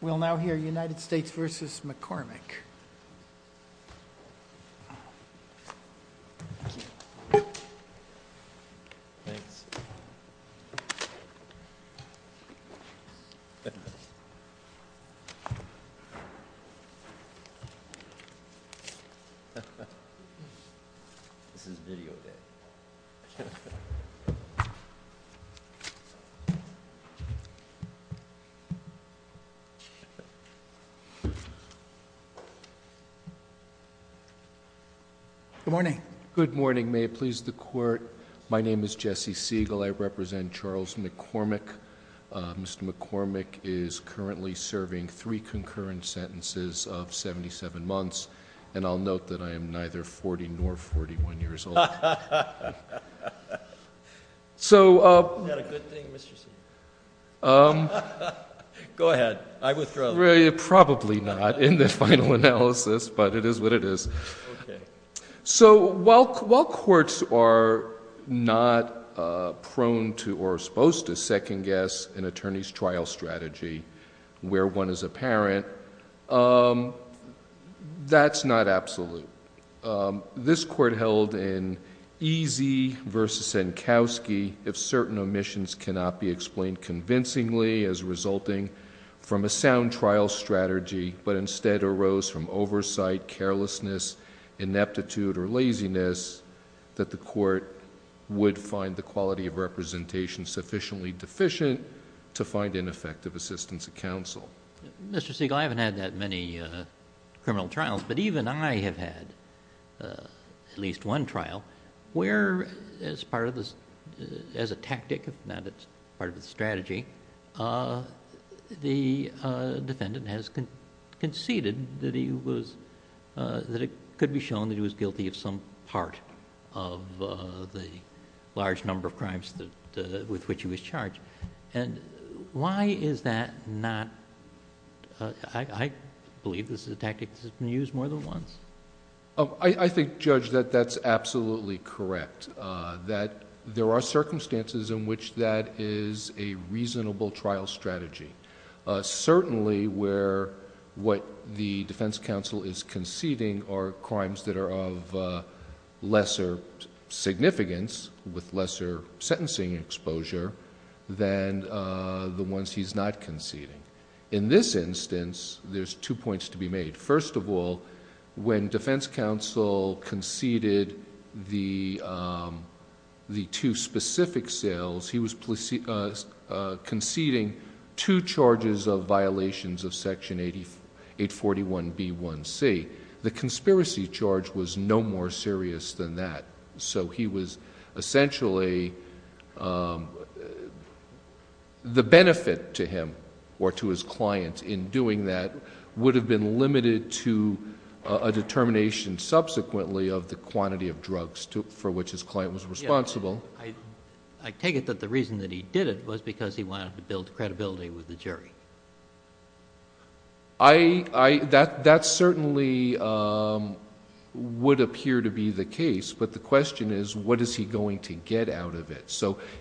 We'll now hear United States v. McCormick. Mr. McCormick is currently serving three concurrent sentences of 77 months, and I'll note that I am neither 40 nor 41 years old. So, while courts are not prone to or supposed to second guess an attorney's trial strategy where one is a parent, that's not absolute. This court held in Eazey v. Senkowski, if certain omissions cannot be explained convincingly as resulting from a sound trial strategy, but instead arose from oversight, carelessness, ineptitude or laziness, that the court would find the quality of representation sufficiently deficient to find ineffective assistance at counsel. Mr. Segal, I haven't had that many criminal trials, but even I have had at least one trial where as a tactic, if not as part of the strategy, the defendant has conceded that he was... that it could be shown that he was guilty of some part of the large number of crimes with which he was charged. Why is that not... I believe this is a tactic that's been used more than once. I think, Judge, that that's absolutely correct. There are circumstances in which that is a reasonable trial strategy. Certainly where what the defense counsel is conceding are crimes that are of lesser significance, with lesser sentencing exposure, than the ones he's not conceding. In this instance, there's two points to be made. First of all, when defense counsel conceded the two specific sales, he was conceding two charges of violations of Section 841B1C. The conspiracy charge was no more serious than that. He was essentially... the benefit to him or to his client in doing that would have been limited to a determination subsequently of the quantity of drugs for which his client was responsible. I take it that the reason that he did it was because he wanted to build credibility with the jury. That certainly would appear to be the case, but the question is, what is he going to get out of it?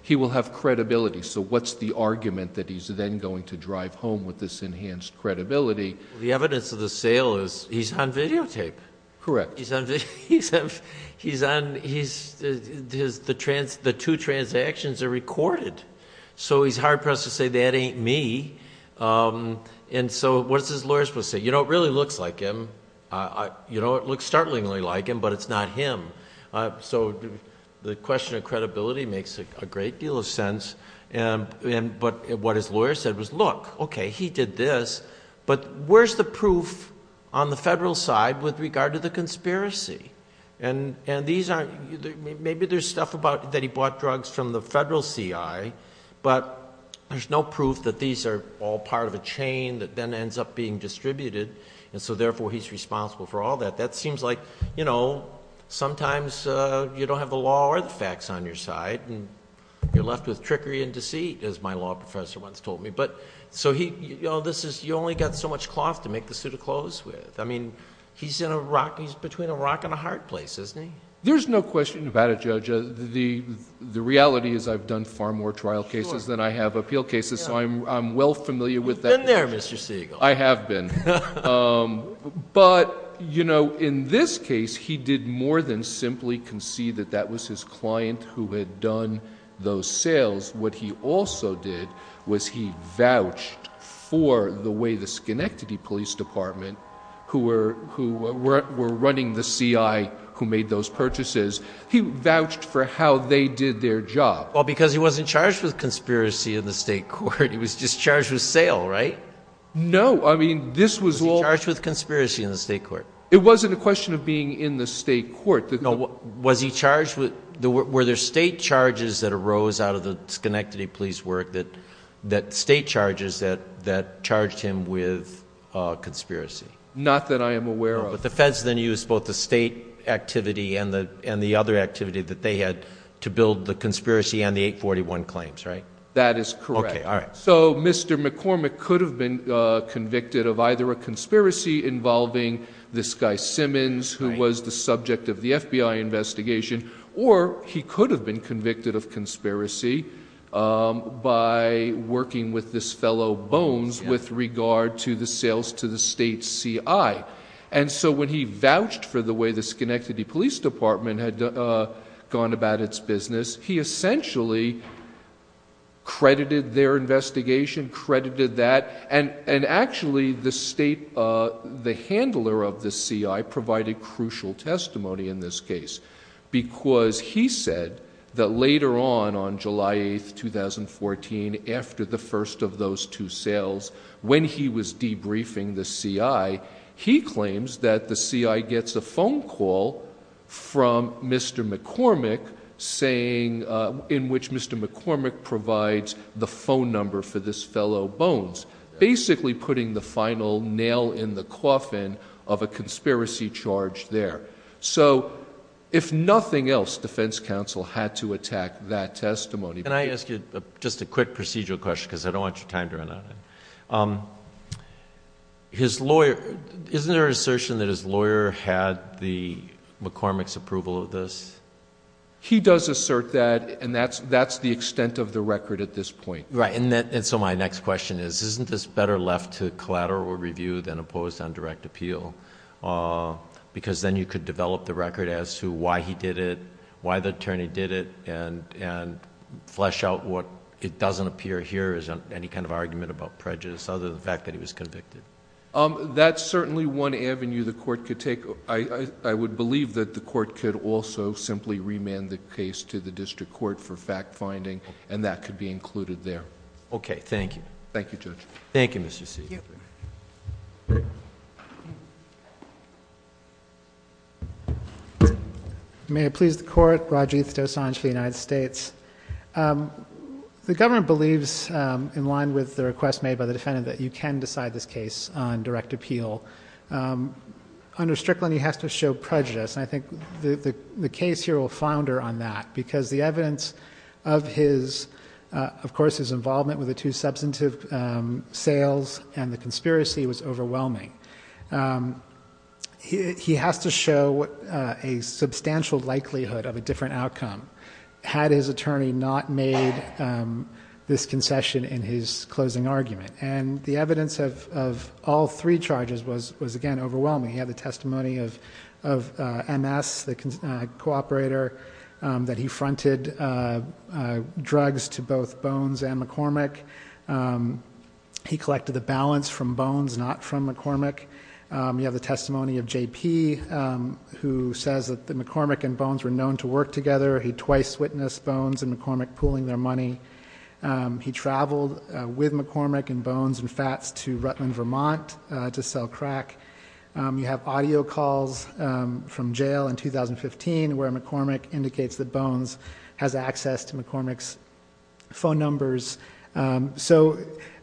He will have credibility, so what's the argument that he's then going to drive home with this enhanced credibility? The evidence of the sale is he's on videotape. Correct. He's on... the two transactions are recorded. He's hard-pressed to say, that ain't me. What's his lawyer supposed to say? You know, it really looks like him. You know, it looks startlingly like him, but it's not him. The question of credibility makes a great deal of sense, but what his lawyer said was, look, okay, he did this, but where's the proof on the federal side with regard to the conspiracy? Maybe there's stuff about that he bought drugs from the federal CI, but there's no proof that these are all part of a chain that then ends up being distributed, and so therefore he's responsible for all that. That seems like, you know, sometimes you don't have the law or the facts on your side, and you're left with trickery and deceit, as my law professor once told me. So you only got so much cloth to make the suit of clothes with. I mean, he's in a rock... he's between a rock and a hard place, isn't he? There's no question about it, Judge. The reality is I've done far more trial cases than I have appeal cases, so I'm well familiar with that... You've been there, Mr. Siegel. I have been, but, you know, in this case, he did more than simply concede that that was his client who had done those sales. Because what he also did was he vouched for the way the Schenectady Police Department, who were running the CI who made those purchases, he vouched for how they did their job. Well, because he wasn't charged with conspiracy in the state court, he was just charged with sale, right? No. I mean, this was all... Was he charged with conspiracy in the state court? It wasn't a question of being in the state court. Was he charged with... were there state charges that arose out of the Schenectady Police work that... state charges that charged him with conspiracy? Not that I am aware of. No, but the feds then used both the state activity and the other activity that they had to build the conspiracy and the 841 claims, right? That is correct. Okay, all right. So, Mr. McCormick could have been convicted of either a conspiracy involving this guy FBI investigation, or he could have been convicted of conspiracy by working with this fellow Bones with regard to the sales to the state CI. And so, when he vouched for the way the Schenectady Police Department had gone about its business, he essentially credited their investigation, credited that, and actually the state... the because he said that later on, on July 8th, 2014, after the first of those two sales, when he was debriefing the CI, he claims that the CI gets a phone call from Mr. McCormick saying... in which Mr. McCormick provides the phone number for this fellow Bones, basically putting the final nail in the coffin of a conspiracy charge there. So, if nothing else, defense counsel had to attack that testimony... Can I ask you just a quick procedural question, because I don't want your time to run out. His lawyer... isn't there an assertion that his lawyer had the McCormick's approval of this? He does assert that, and that's the extent of the record at this point. Right, and so my next question is, isn't this better left to collateral review than opposed on direct appeal, because then you could develop the record as to why he did it, why the attorney did it, and flesh out what... it doesn't appear here as any kind of argument about prejudice, other than the fact that he was convicted. That's certainly one avenue the court could take. I would believe that the court could also simply remand the case to the district court for fact finding, and that could be included there. Okay. Thank you. Thank you, Judge. Thank you, Mr. C. Thank you. Thank you. Thank you. Thank you. May it please the Court. Rajiv Dosanjh for the United States. The government believes, in line with the request made by the defendant, that you can decide this case on direct appeal. Under Strickland, he has to show prejudice, and I think the case here will founder on that, because the evidence of his... of course, his involvement with the two substantive sales and the conspiracy was overwhelming. He has to show a substantial likelihood of a different outcome, had his attorney not made this concession in his closing argument. The evidence of all three charges was, again, overwhelming. He had the testimony of MS, the cooperator, that he fronted drugs to both Bones and McCormick. He collected the balance from Bones, not from McCormick. You have the testimony of JP, who says that McCormick and Bones were known to work together. He twice witnessed Bones and McCormick pooling their money. He traveled with McCormick and Bones and Fats to Rutland, Vermont, to sell crack. You have audio calls from jail in 2015, where McCormick indicates that Bones has access to McCormick's phone numbers. So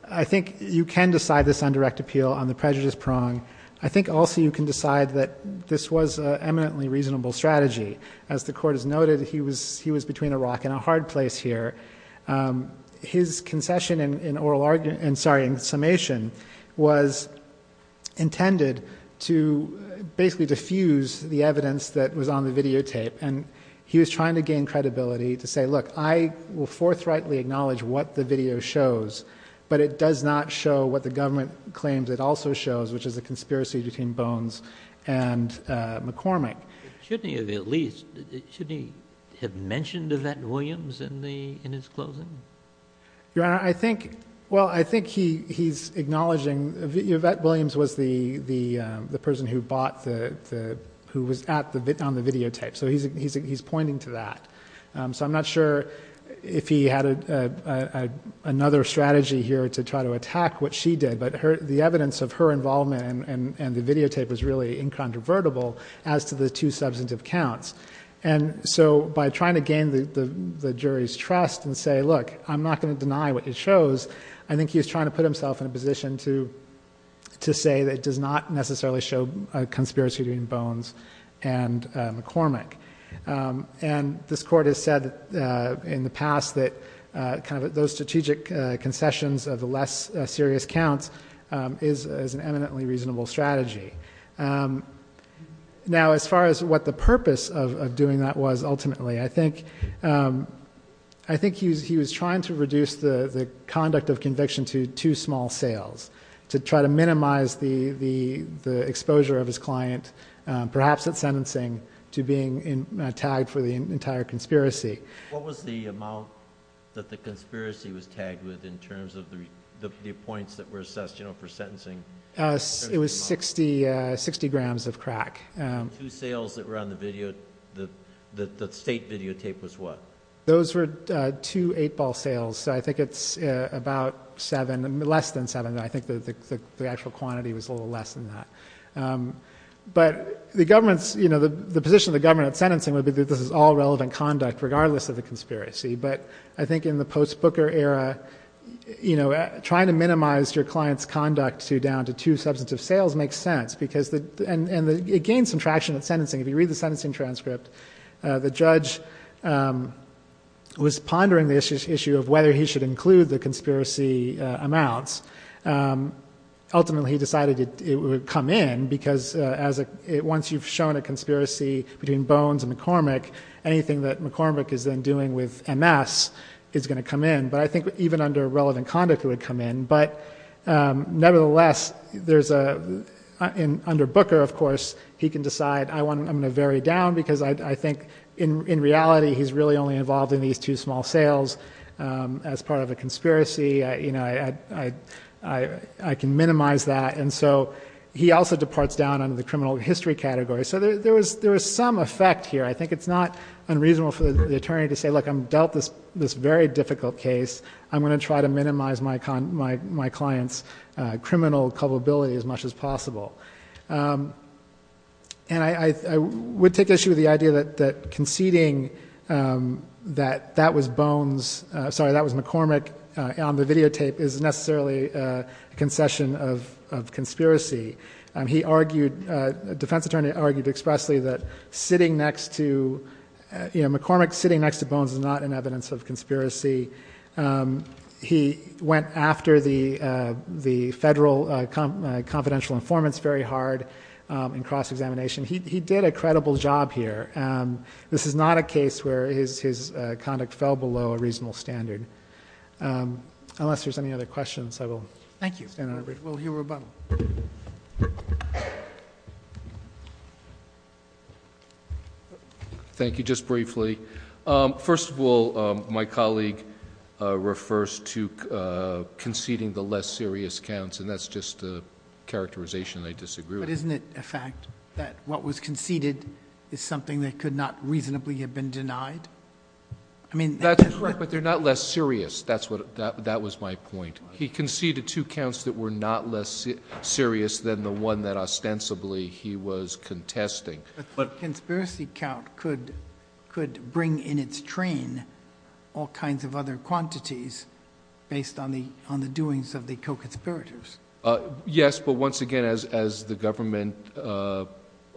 I think you can decide this on direct appeal on the prejudice prong. I think also you can decide that this was an eminently reasonable strategy. As the court has noted, he was between a rock and a hard place here. His concession in summation was intended to basically diffuse the evidence that was on the videotape. And he was trying to gain credibility to say, look, I will forthrightly acknowledge what the video shows, but it does not show what the government claims it also shows, which is a conspiracy between Bones and McCormick. Shouldn't he have at least, shouldn't he have mentioned Yvette Williams in his closing? Your Honor, I think, well, I think he's acknowledging Yvette Williams was the person who bought the, who was at the, on the videotape. So he's pointing to that. So I'm not sure if he had another strategy here to try to attack what she did, but the evidence of her involvement and the videotape was really incontrovertible as to the two substantive counts. And so by trying to gain the jury's trust and say, look, I'm not going to deny what it shows. I think he was trying to put himself in a position to say that it does not necessarily show a conspiracy between Bones and McCormick. And this court has said in the past that kind of those strategic concessions of the less serious counts is an eminently reasonable strategy. Now as far as what the purpose of doing that was ultimately, I think, I think he was, he was trying to reduce the conduct of conviction to two small sales to try to minimize the, the, the exposure of his client, um, perhaps at sentencing to being in a tag for the entire conspiracy. What was the amount that the conspiracy was tagged with in terms of the, the, the points that were assessed, you know, for sentencing? It was 60, uh, 60 grams of crack, um, two sales that were on the video, the state videotape was what? Those were two eight ball sales. So I think it's about seven, less than seven. And I think that the, the, the actual quantity was a little less than that. Um, but the government's, you know, the, the position of the government at sentencing would be that this is all relevant conduct regardless of the conspiracy. But I think in the post booker era, you know, trying to minimize your client's conduct to down to two substantive sales makes sense because the, and, and the, it gained some traction at sentencing. If you read the sentencing transcript, uh, the judge, um, was pondering the issue of whether he should include the conspiracy, uh, amounts. Um, ultimately he decided it would come in because, uh, as a, once you've shown a conspiracy between bones and McCormick, anything that McCormick is then doing with MS is going to come in. But I think even under relevant conduct, it would come in. But, um, nevertheless, there's a, uh, in under Booker, of course, he can decide I want, I'm going to vary down because I think in, in reality, he's really only involved in these two small sales, um, as part of a conspiracy. I, you know, I, I, I, I can minimize that. And so he also departs down under the criminal history category. So there, there was, there was some effect here. I think it's not unreasonable for the attorney to say, look, I'm dealt this, this very difficult case. I'm going to try to minimize my con, my, my clients, uh, criminal culpability as much as possible. Um, and I, I, I would take issue with the idea that, that conceding, um, that that was bones, uh, sorry, that was McCormick on the videotape is necessarily a concession of, of conspiracy. Um, he argued, uh, defense attorney argued expressly that sitting next to, uh, you know, McCormick sitting next to bones is not an evidence of conspiracy. Um, he went after the, uh, the federal, uh, conf, uh, confidential informants very hard, um, and cross-examination. He, he did a credible job here. Um, this is not a case where his, his, uh, conduct fell below a reasonable standard, um, unless there's any other questions, I will thank you. Thank you. Thank you. Just briefly, um, first of all, um, my colleague, uh, refers to, uh, conceding the less serious counts, and that's just a characterization I disagree with. But isn't it a fact that what was conceded is something that could not reasonably have been denied? I mean, that's correct, but they're not less serious. That's what, that, that was my point. He conceded two counts that were not less serious than the one that ostensibly he was contesting, but conspiracy count could, could bring in its train, all kinds of other quantities based on the, on the doings of the co-conspirators. Uh, yes, but once again, as, as the government, uh,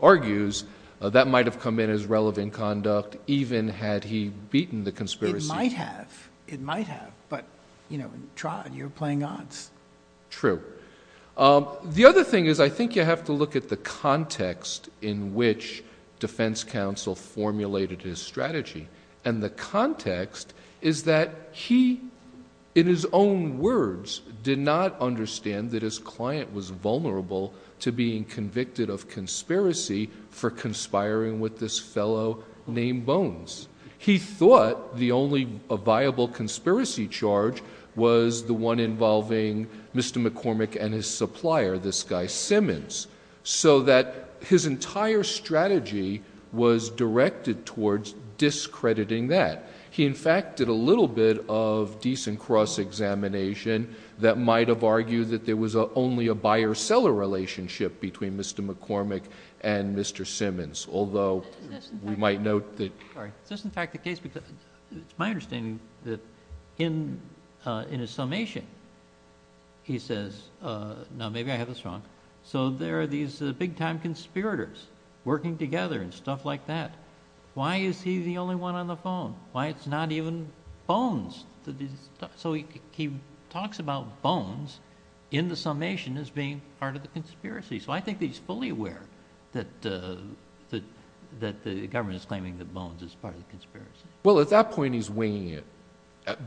argues, uh, that might've come in as relevant conduct, even had he beaten the conspiracy. It might have, it might have, but you know, in trial, you're playing odds. True. Um, the other thing is I think you have to look at the context in which defense counsel formulated his strategy. And the context is that he, in his own words, did not understand that his client was vulnerable to being convicted of conspiracy for conspiring with this fellow named Bones. He thought the only viable conspiracy charge was the one involving Mr. McCormick and his supplier, this guy Simmons, so that his entire strategy was directed towards discrediting that. He, in fact, did a little bit of decent cross-examination that might've argued that there was only a buyer seller relationship between Mr. McCormick and Mr. Simmons. Although we might note that, sorry. Is this in fact the case, because it's my understanding that in, uh, in a summation, he says, uh, no, maybe I have this wrong. So there are these big time conspirators working together and stuff like that. Why is he the only one on the phone? Why it's not even Bones. So he talks about Bones in the summation as being part of the conspiracy. So I think he's fully aware that, uh, that, that the government is claiming that Bones is part of the conspiracy. Well, at that point he's winging it,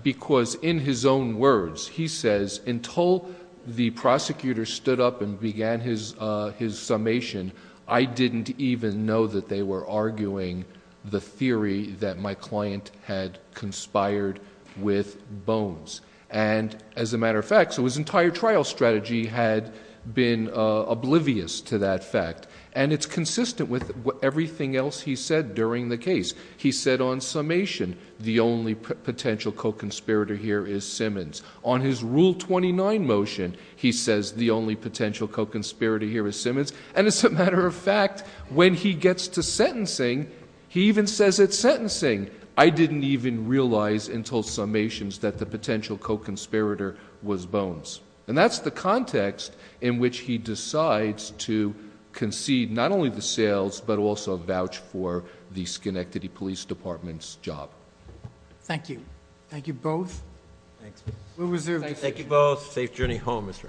because in his own words, he says, until the prosecutor stood up and began his, uh, his summation, I didn't even know that they were arguing the theory that my client had conspired with Bones. And as a matter of fact, so his entire trial strategy had been, uh, oblivious to that fact, and it's consistent with everything else he said during the case. He said on summation, the only potential co-conspirator here is Simmons. On his rule 29 motion, he says the only potential co-conspirator here is Simmons. And as a matter of fact, when he gets to sentencing, he even says at sentencing, I didn't even realize until summations that the potential co-conspirator was Bones. And that's the context in which he decides to concede not only the sales, but also vouch for the Schenectady Police Department's job. Thank you. Thank you both. Thanks. We'll reserve. Thank you both. Safe journey home, Mr.